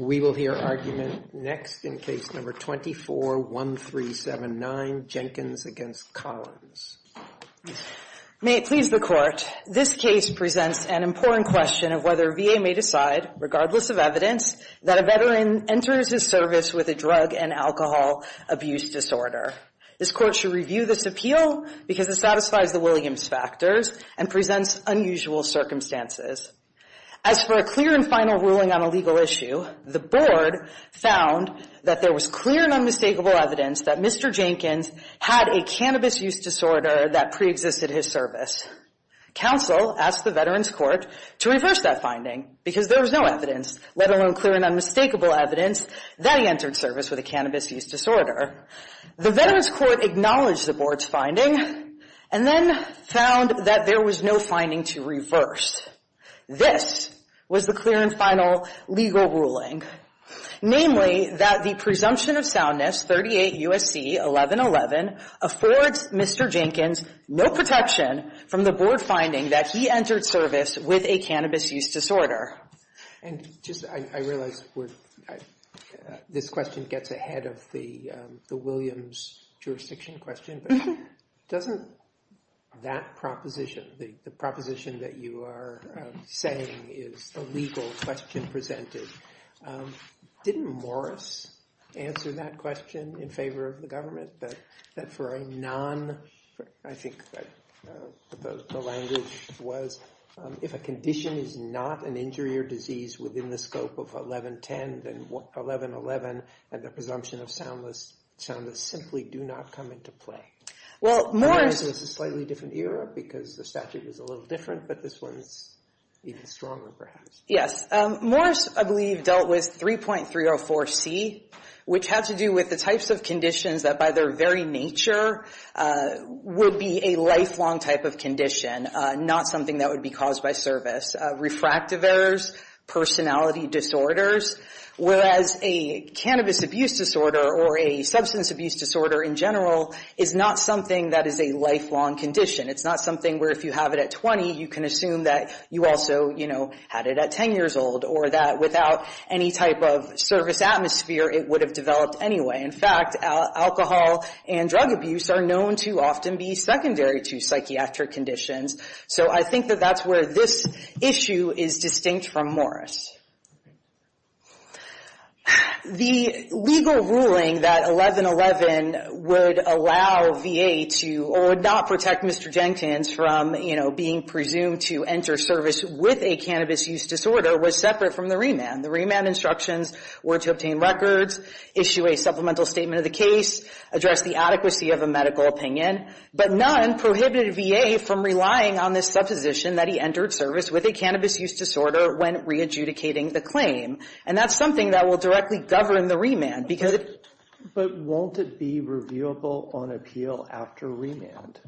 We will hear argument next in case number 24-1379, Jenkins against Collins. May it please the court, this case presents an important question of whether VA may decide, regardless of evidence, that a veteran enters his service with a drug and alcohol abuse disorder. This court should review this appeal because it satisfies the Williams factors and presents unusual circumstances. As for a clear and final ruling on a legal issue, the board found that there was clear and unmistakable evidence that Mr. Jenkins had a cannabis use disorder that preexisted his service. Counsel asked the Veterans Court to reverse that finding because there was no evidence, let alone clear and unmistakable evidence, that he entered service with a cannabis use disorder. The Veterans Court acknowledged the board's finding and then found that there was no finding to reverse. This was the clear and final legal ruling, namely that the presumption of soundness, 38 U.S.C. 1111, affords Mr. Jenkins no protection from the board finding that he entered service with a cannabis use disorder. And just, I realize this question gets ahead of the Williams jurisdiction question, but doesn't that proposition, the proposition that you are saying is a legal question presented, didn't Morris answer that question in favor of the government, that for a non, I think the language was, if a condition is not an injury or disease within the scope of 1110, then 1111 and the presumption of soundness simply do not come into play? Well, Morris... I realize this is a slightly different era because the statute was a little different, but this one is even stronger perhaps. Yes. Morris, I believe, dealt with 3.304C, which had to do with the types of conditions that by their very nature would be a lifelong type of condition, not something that would be caused by service. Refractive errors, personality disorders, whereas a cannabis abuse disorder or a substance abuse disorder in general is not something that is a lifelong condition. It's not something where if you have it at 20, you can assume that you also, you know, had it at 10 years old or that without any type of service atmosphere, it would have developed anyway. In fact, alcohol and drug abuse are known to often be secondary to psychiatric conditions. So I think that that's where this issue is distinct from Morris. The legal ruling that 1111 would allow VA to, or would not protect Mr. Jenkins from, you know, being presumed to enter service with a cannabis use disorder was separate from the remand. The remand instructions were to obtain records, issue a supplemental statement of the case, address the adequacy of a medical opinion, but none prohibited VA from relying on this supposition that he entered service with a cannabis use disorder when re-adjudicating the claim. And that's something that will directly govern the remand because it... But won't it be reviewable on appeal after remand?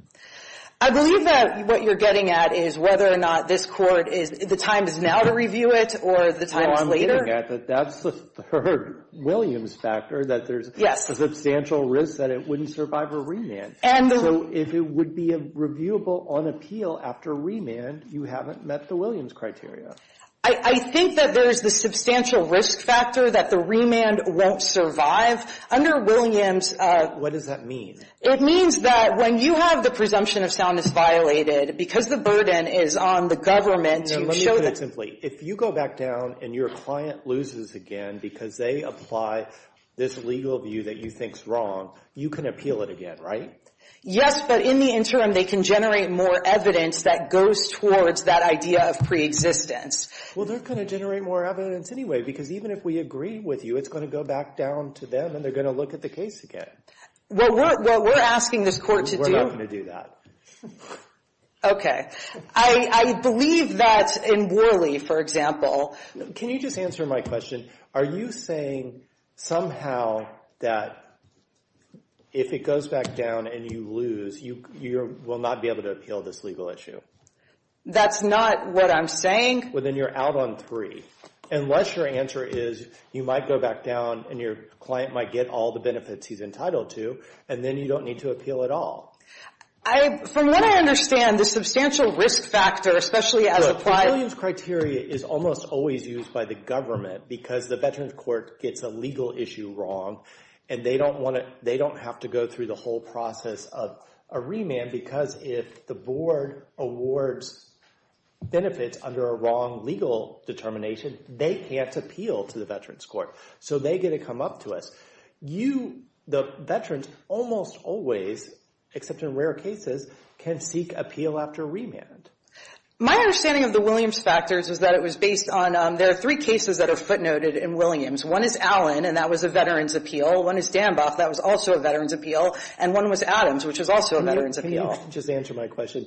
I believe that what you're getting at is whether or not this Court is, the time is now to review it or the time is later. Well, I'm getting at that that's the third Williams factor, that there's a substantial risk that it wouldn't survive a remand. So if it would be reviewable on appeal after remand, you haven't met the Williams criteria. I think that there's the substantial risk factor that the remand won't survive. Under Williams... What does that mean? It means that when you have the presumption of soundness violated, because the burden is on the government to show that... If you go back down and your client loses again because they apply this legal view that you think is wrong, you can appeal it again, right? Yes, but in the interim, they can generate more evidence that goes towards that idea of pre-existence. Well, they're going to generate more evidence anyway because even if we agree with you, it's going to go back down to them and they're going to look at the case again. What we're asking this Court to do... We're not going to do that. Okay. I believe that in Worley, for example... Can you just answer my question? Are you saying somehow that if it goes back down and you lose, you will not be able to appeal this legal issue? That's not what I'm saying. Well, then you're out on three. Unless your answer is you might go back down and your client might get all the benefits he's entitled to, and then you don't need to appeal at all. From what I understand, the substantial risk factor, especially as a client... The Williams Criteria is almost always used by the government because the Veterans Court gets a legal issue wrong, and they don't have to go through the whole process of a remand because if the board awards benefits under a wrong legal determination, they can't appeal to the Veterans Court, so they get to come up to us. The Veterans almost always, except in rare cases, can seek appeal after remand. My understanding of the Williams factors is that it was based on... There are three cases that are footnoted in Williams. One is Allen, and that was a Veterans appeal. One is Danboff. That was also a Veterans appeal. And one was Adams, which was also a Veterans appeal. Can you just answer my question?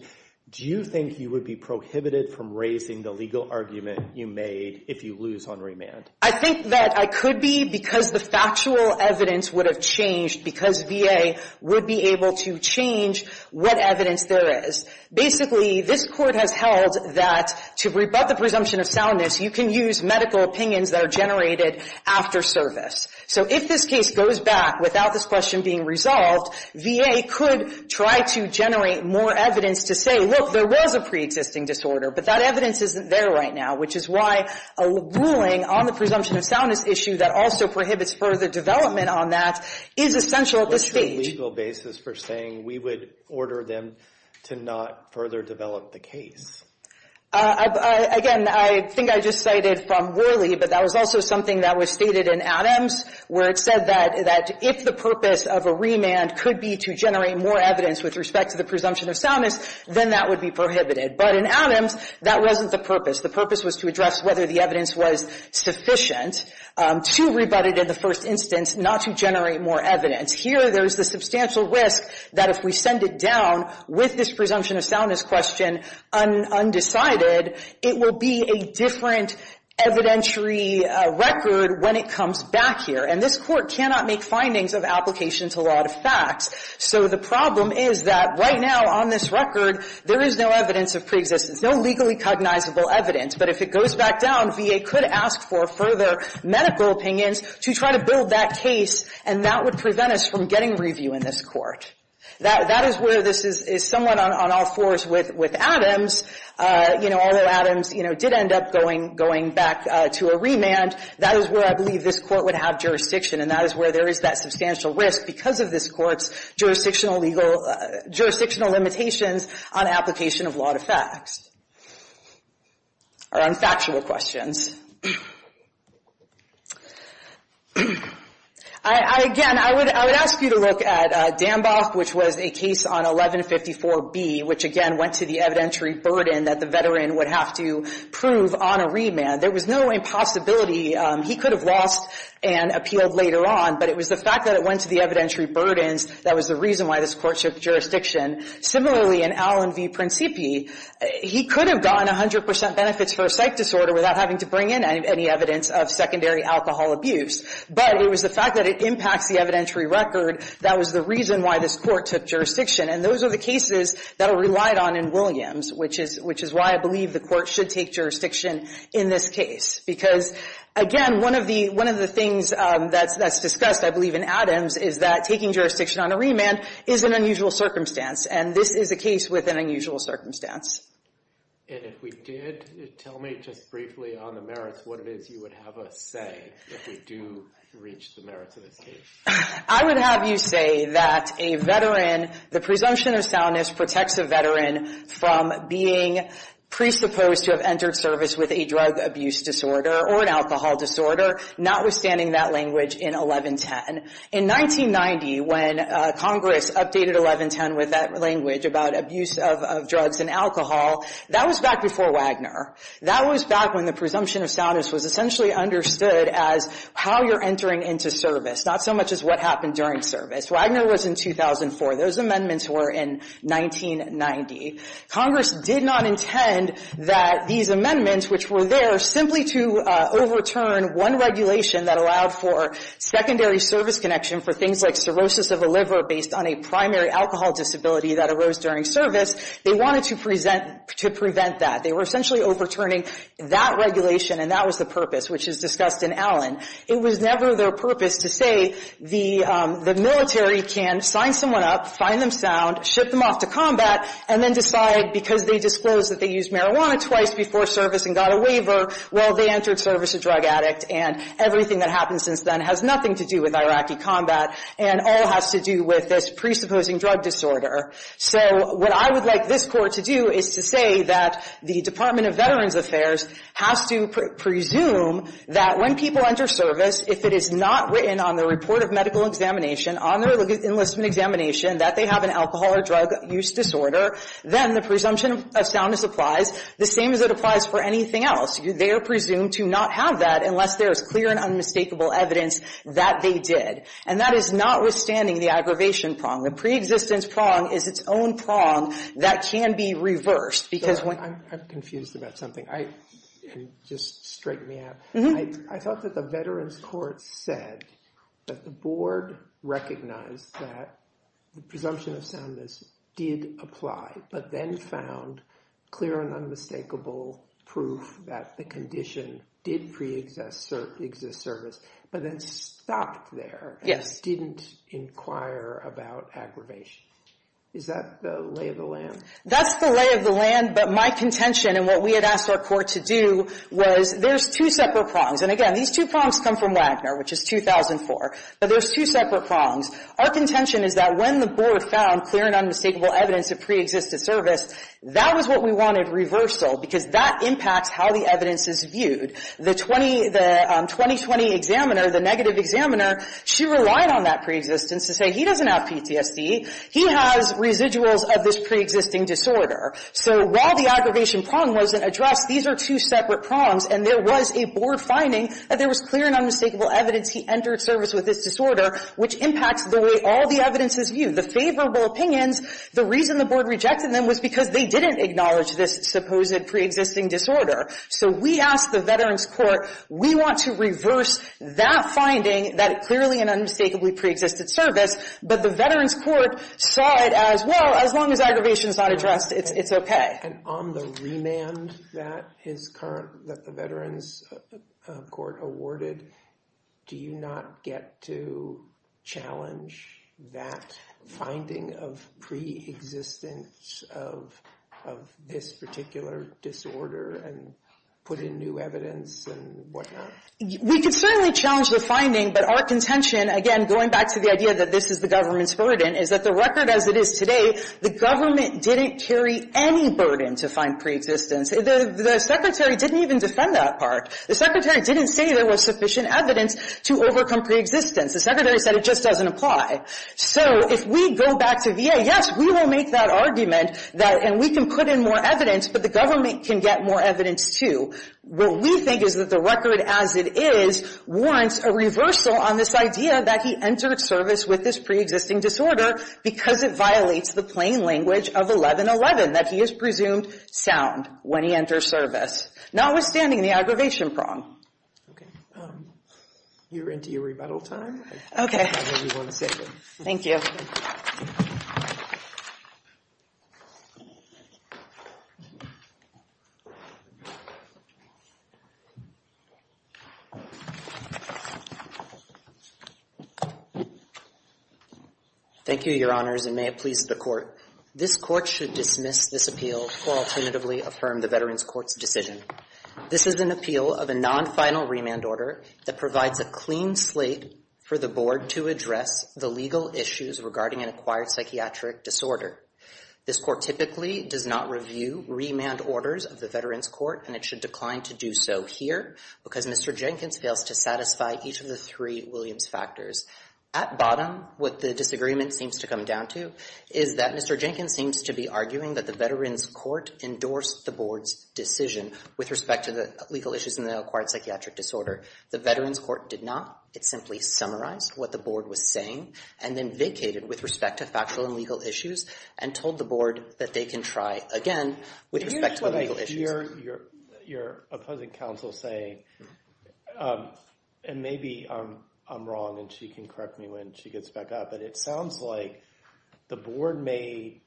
Do you think you would be prohibited from raising the legal argument you made if you lose on remand? I think that I could be because the factual evidence would have changed because VA would be able to change what evidence there is. Basically, this court has held that to rebut the presumption of soundness, you can use medical opinions that are generated after service. So if this case goes back without this question being resolved, VA could try to generate more evidence to say, look, there was a preexisting disorder, but that evidence isn't there right now, which is why a ruling on the presumption of soundness issue that also prohibits further development on that is essential at this stage. What's your legal basis for saying we would order them to not further develop the case? Again, I think I just cited from Worley, but that was also something that was stated in Adams, where it said that if the purpose of a remand could be to generate more evidence with respect to the presumption of soundness, then that would be prohibited. But in Adams, that wasn't the purpose. The purpose was to address whether the evidence was sufficient to rebut it in the first instance, not to generate more evidence. Here, there's the substantial risk that if we send it down with this presumption of soundness question undecided, it will be a different evidentiary record when it comes back here. And this Court cannot make findings of application to law to facts. So the problem is that right now on this record, there is no evidence of preexistence, no legally cognizable evidence. But if it goes back down, VA could ask for further medical opinions to try to build that case, and that would prevent us from getting review in this Court. That is where this is somewhat on all fours with Adams. You know, although Adams, you know, did end up going back to a remand, that is where I believe this Court would have jurisdiction, and that is where there is that substantial risk because of this Court's jurisdictional limitations on application of law to facts or on factual questions. Again, I would ask you to look at Dambach, which was a case on 1154B, which again went to the evidentiary burden that the veteran would have to prove on a remand. There was no impossibility. He could have lost and appealed later on, but it was the fact that it went to the evidentiary burdens that was the reason why this Court took jurisdiction. Similarly, in Allen v. Principi, he could have gotten 100 percent benefits for a psych disorder without having to bring in any evidence of secondary alcohol abuse, but it was the fact that it impacts the evidentiary record that was the reason why this Court took jurisdiction. And those are the cases that are relied on in Williams, which is why I believe the Court should take jurisdiction in this case. Because again, one of the things that's discussed, I believe, in Adams is that taking jurisdiction on a remand is an unusual circumstance, and this is a case with an unusual circumstance. And if we did, tell me just briefly on the merits, what it is you would have us say if we do reach the merits of this case. I would have you say that a veteran, the presumption of soundness protects a veteran from being presupposed to have entered service with a drug abuse disorder or an alcohol disorder, notwithstanding that language in 1110. In 1990, when Congress updated 1110 with that language about abuse of drugs and alcohol, that was back before Wagner. That was back when the presumption of soundness was essentially understood as how you're entering into service, not so much as what happened during service. Wagner was in 2004. Those amendments were in 1990. Congress did not intend that these amendments, which were there simply to overturn one regulation that allowed for secondary service connection for things like cirrhosis of a liver based on a primary alcohol disability that arose during service. They wanted to present to prevent that. They were essentially overturning that regulation, and that was the purpose, which is discussed in Allen. It was never their purpose to say the military can sign someone up, find them sound, ship them off to combat, and then decide because they disclosed that they used marijuana twice before service and got a waiver, well, they entered service a drug addict. And everything that happened since then has nothing to do with Iraqi combat and all has to do with this presupposing drug disorder. So what I would like this Court to do is to say that the Department of Veterans Affairs has to presume that when people enter service, if it is not written on the report of medical examination, on their enlistment examination, that they have an alcohol or drug use disorder, then the presumption of soundness applies the same as it applies for anything else. They are presumed to not have that unless there is clear and unmistakable evidence that they did. And that is notwithstanding the aggravation prong. The preexistence prong is its own prong that can be reversed because when you're confused about something, I thought that the Veterans Court said that the board recognized that the presumption of soundness did apply, but then found clear and unmistakable proof that the condition did preexist service, but then stopped there and didn't inquire about aggravation. Is that the lay of the land? But my contention and what we had asked our court to do was there's two separate prongs. And again, these two prongs come from Wagner, which is 2004. But there's two separate prongs. Our contention is that when the board found clear and unmistakable evidence of preexistent service, that was what we wanted reversal because that impacts how the evidence is viewed. The 2020 examiner, the negative examiner, she relied on that preexistence to say he doesn't have PTSD. He has residuals of this preexisting disorder. So while the aggravation prong wasn't addressed, these are two separate prongs, and there was a board finding that there was clear and unmistakable evidence he entered service with this disorder, which impacts the way all the evidence is viewed. The favorable opinions, the reason the board rejected them was because they didn't acknowledge this supposed preexisting disorder. So we asked the Veterans Court, we want to reverse that finding that it clearly and unmistakably preexisted service, but the Veterans Court saw it as, well, as long as aggravation is not addressed, it's okay. And on the remand that the Veterans Court awarded, do you not get to challenge that finding of preexistence of this particular disorder and put in new evidence and whatnot? We could certainly challenge the finding, but our contention, again, going back to the idea that this is the government's burden, is that the record as it is today, the government didn't carry any burden to find preexistence. The Secretary didn't even defend that part. The Secretary didn't say there was sufficient evidence to overcome preexistence. The Secretary said it just doesn't apply. So if we go back to VA, yes, we will make that argument, and we can put in more evidence, but the government can get more evidence, too. What we think is that the record as it is warrants a reversal on this idea that he entered service with this preexisting disorder because it violates the plain language of 1111, that he is presumed sound when he enters service, notwithstanding the aggravation prong. Okay. You're into your rebuttal time. Okay. Thank you. Thank you, Your Honors, and may it please the Court. This Court should dismiss this appeal or alternatively affirm the Veterans Court's decision. This is an appeal of a non-final remand order that provides a clean slate for the Board to address the legal issues regarding an acquired psychiatric disorder. This Court typically does not review remand orders of the Veterans Court, and it should decline to do so here because Mr. Jenkins fails to satisfy each of the three Williams factors. At bottom, what the disagreement seems to come down to is that Mr. Jenkins seems to be arguing that the Veterans Court endorsed the Board's decision with respect to the legal issues in the acquired psychiatric disorder. The Veterans Court did not. It simply summarized what the Board was saying and then vacated with respect to factual and legal issues and told the Board that they can try again with respect to the legal issues. You're opposing counsel saying, and maybe I'm wrong and she can correct me when she gets back up, but it sounds like the Board made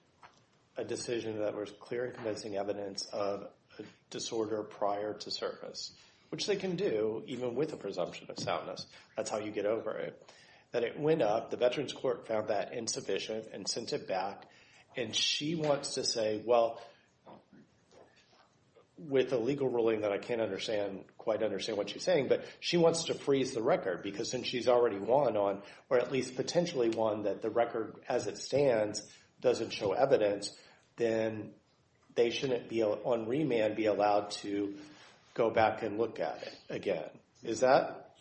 a decision that was clear and convincing evidence of a disorder prior to service, which they can do even with a presumption of soundness. That's how you get over it. That it went up, the Veterans Court found that insufficient and sent it back, and she wants to say, well, with a legal ruling that I can't understand, quite understand what she's saying, but she wants to freeze the record because since she's already won on, or at least potentially won that the record as it stands doesn't show evidence, then they shouldn't be, on remand, be allowed to go back and look at it again. Is that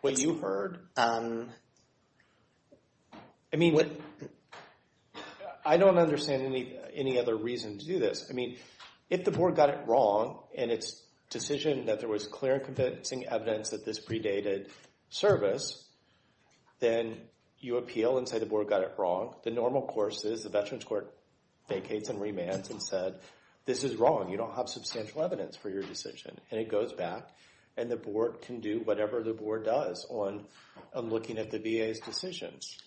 what you heard? I mean, I don't understand any other reason to do this. I mean, if the Board got it wrong in its decision that there was clear and convincing evidence that this predated service, then you appeal and say the Board got it wrong. The normal course is the Veterans Court vacates on remand and said, this is wrong. You don't have substantial evidence for your decision, and it goes back, and the Board can do whatever the Board does on looking at the VA's decisions.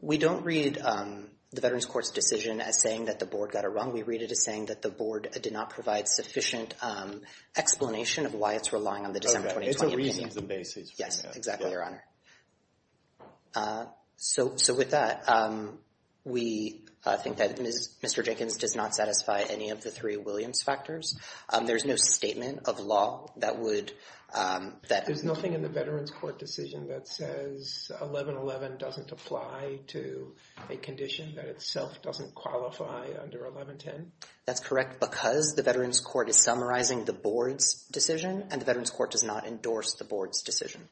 We don't read the Veterans Court's decision as saying that the Board got it wrong. We read it as saying that the Board did not provide sufficient explanation of why it's relying on the December 2020 opinion. It's a reasons and basis for remand. Yes, exactly, Your Honor. So with that, we think that Mr. Jenkins does not satisfy any of the three Williams factors. There's no statement of law that would – There's nothing in the Veterans Court decision that says 1111 doesn't apply to a condition that itself doesn't qualify under 1110? That's correct because the Veterans Court is summarizing the Board's decision, and the Veterans Court does not endorse the Board's decision.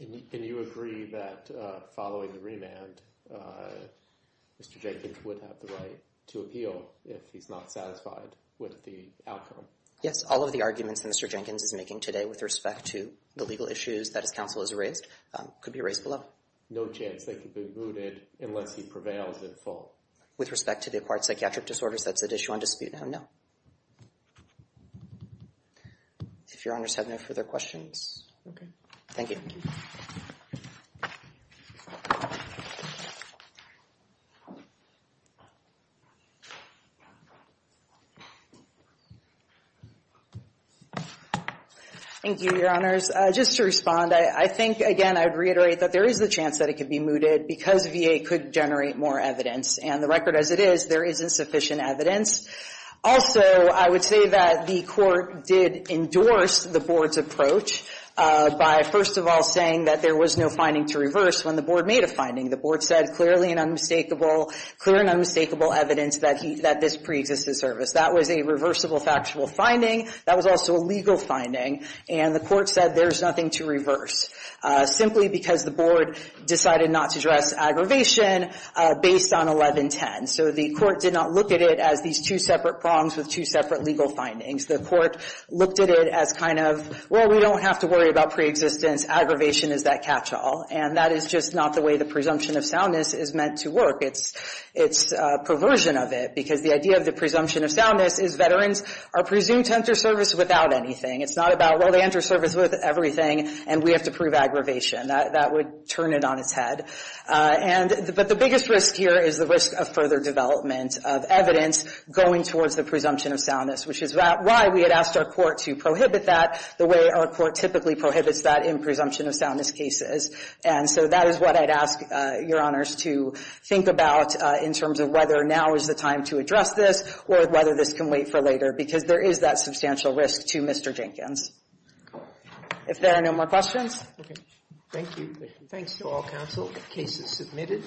And you agree that following the remand, Mr. Jenkins would have the right to appeal if he's not satisfied with the outcome? Yes. All of the arguments that Mr. Jenkins is making today with respect to the legal issues that his counsel has raised could be raised below. No chance they could be mooted unless he prevails in full? With respect to the acquired psychiatric disorders, that's at issue on dispute now, no. If Your Honors have no further questions. Okay. Thank you. Thank you, Your Honors. Just to respond, I think, again, I'd reiterate that there is a chance that it could be mooted because VA could generate more evidence. And the record as it is, there isn't sufficient evidence. Also, I would say that the Court did endorse the Board's approach by, first of all, saying that there was no finding to reverse when the Board made a finding. The Board said, clearly and unmistakably, clear and unmistakable evidence that this preexists the service. That was a reversible factual finding. That was also a legal finding. And the Court said there's nothing to reverse simply because the Board decided not to address aggravation based on 1110. So the Court did not look at it as these two separate prongs with two separate legal findings. The Court looked at it as kind of, well, we don't have to worry about preexistence. Aggravation is that catch-all. And that is just not the way the presumption of soundness is meant to work. It's perversion of it because the idea of the presumption of soundness is veterans are presumed to enter service without anything. It's not about, well, they enter service with everything and we have to prove aggravation. That would turn it on its head. But the biggest risk here is the risk of further development of evidence going towards the presumption of soundness, which is why we had asked our Court to prohibit that the way our Court typically prohibits that in presumption of soundness cases. And so that is what I'd ask Your Honors to think about in terms of whether now is the time to address this or whether this can wait for later because there is that substantial risk to Mr. Jenkins. If there are no more questions. Okay. Thank you. Thanks to all counsel. The case is submitted.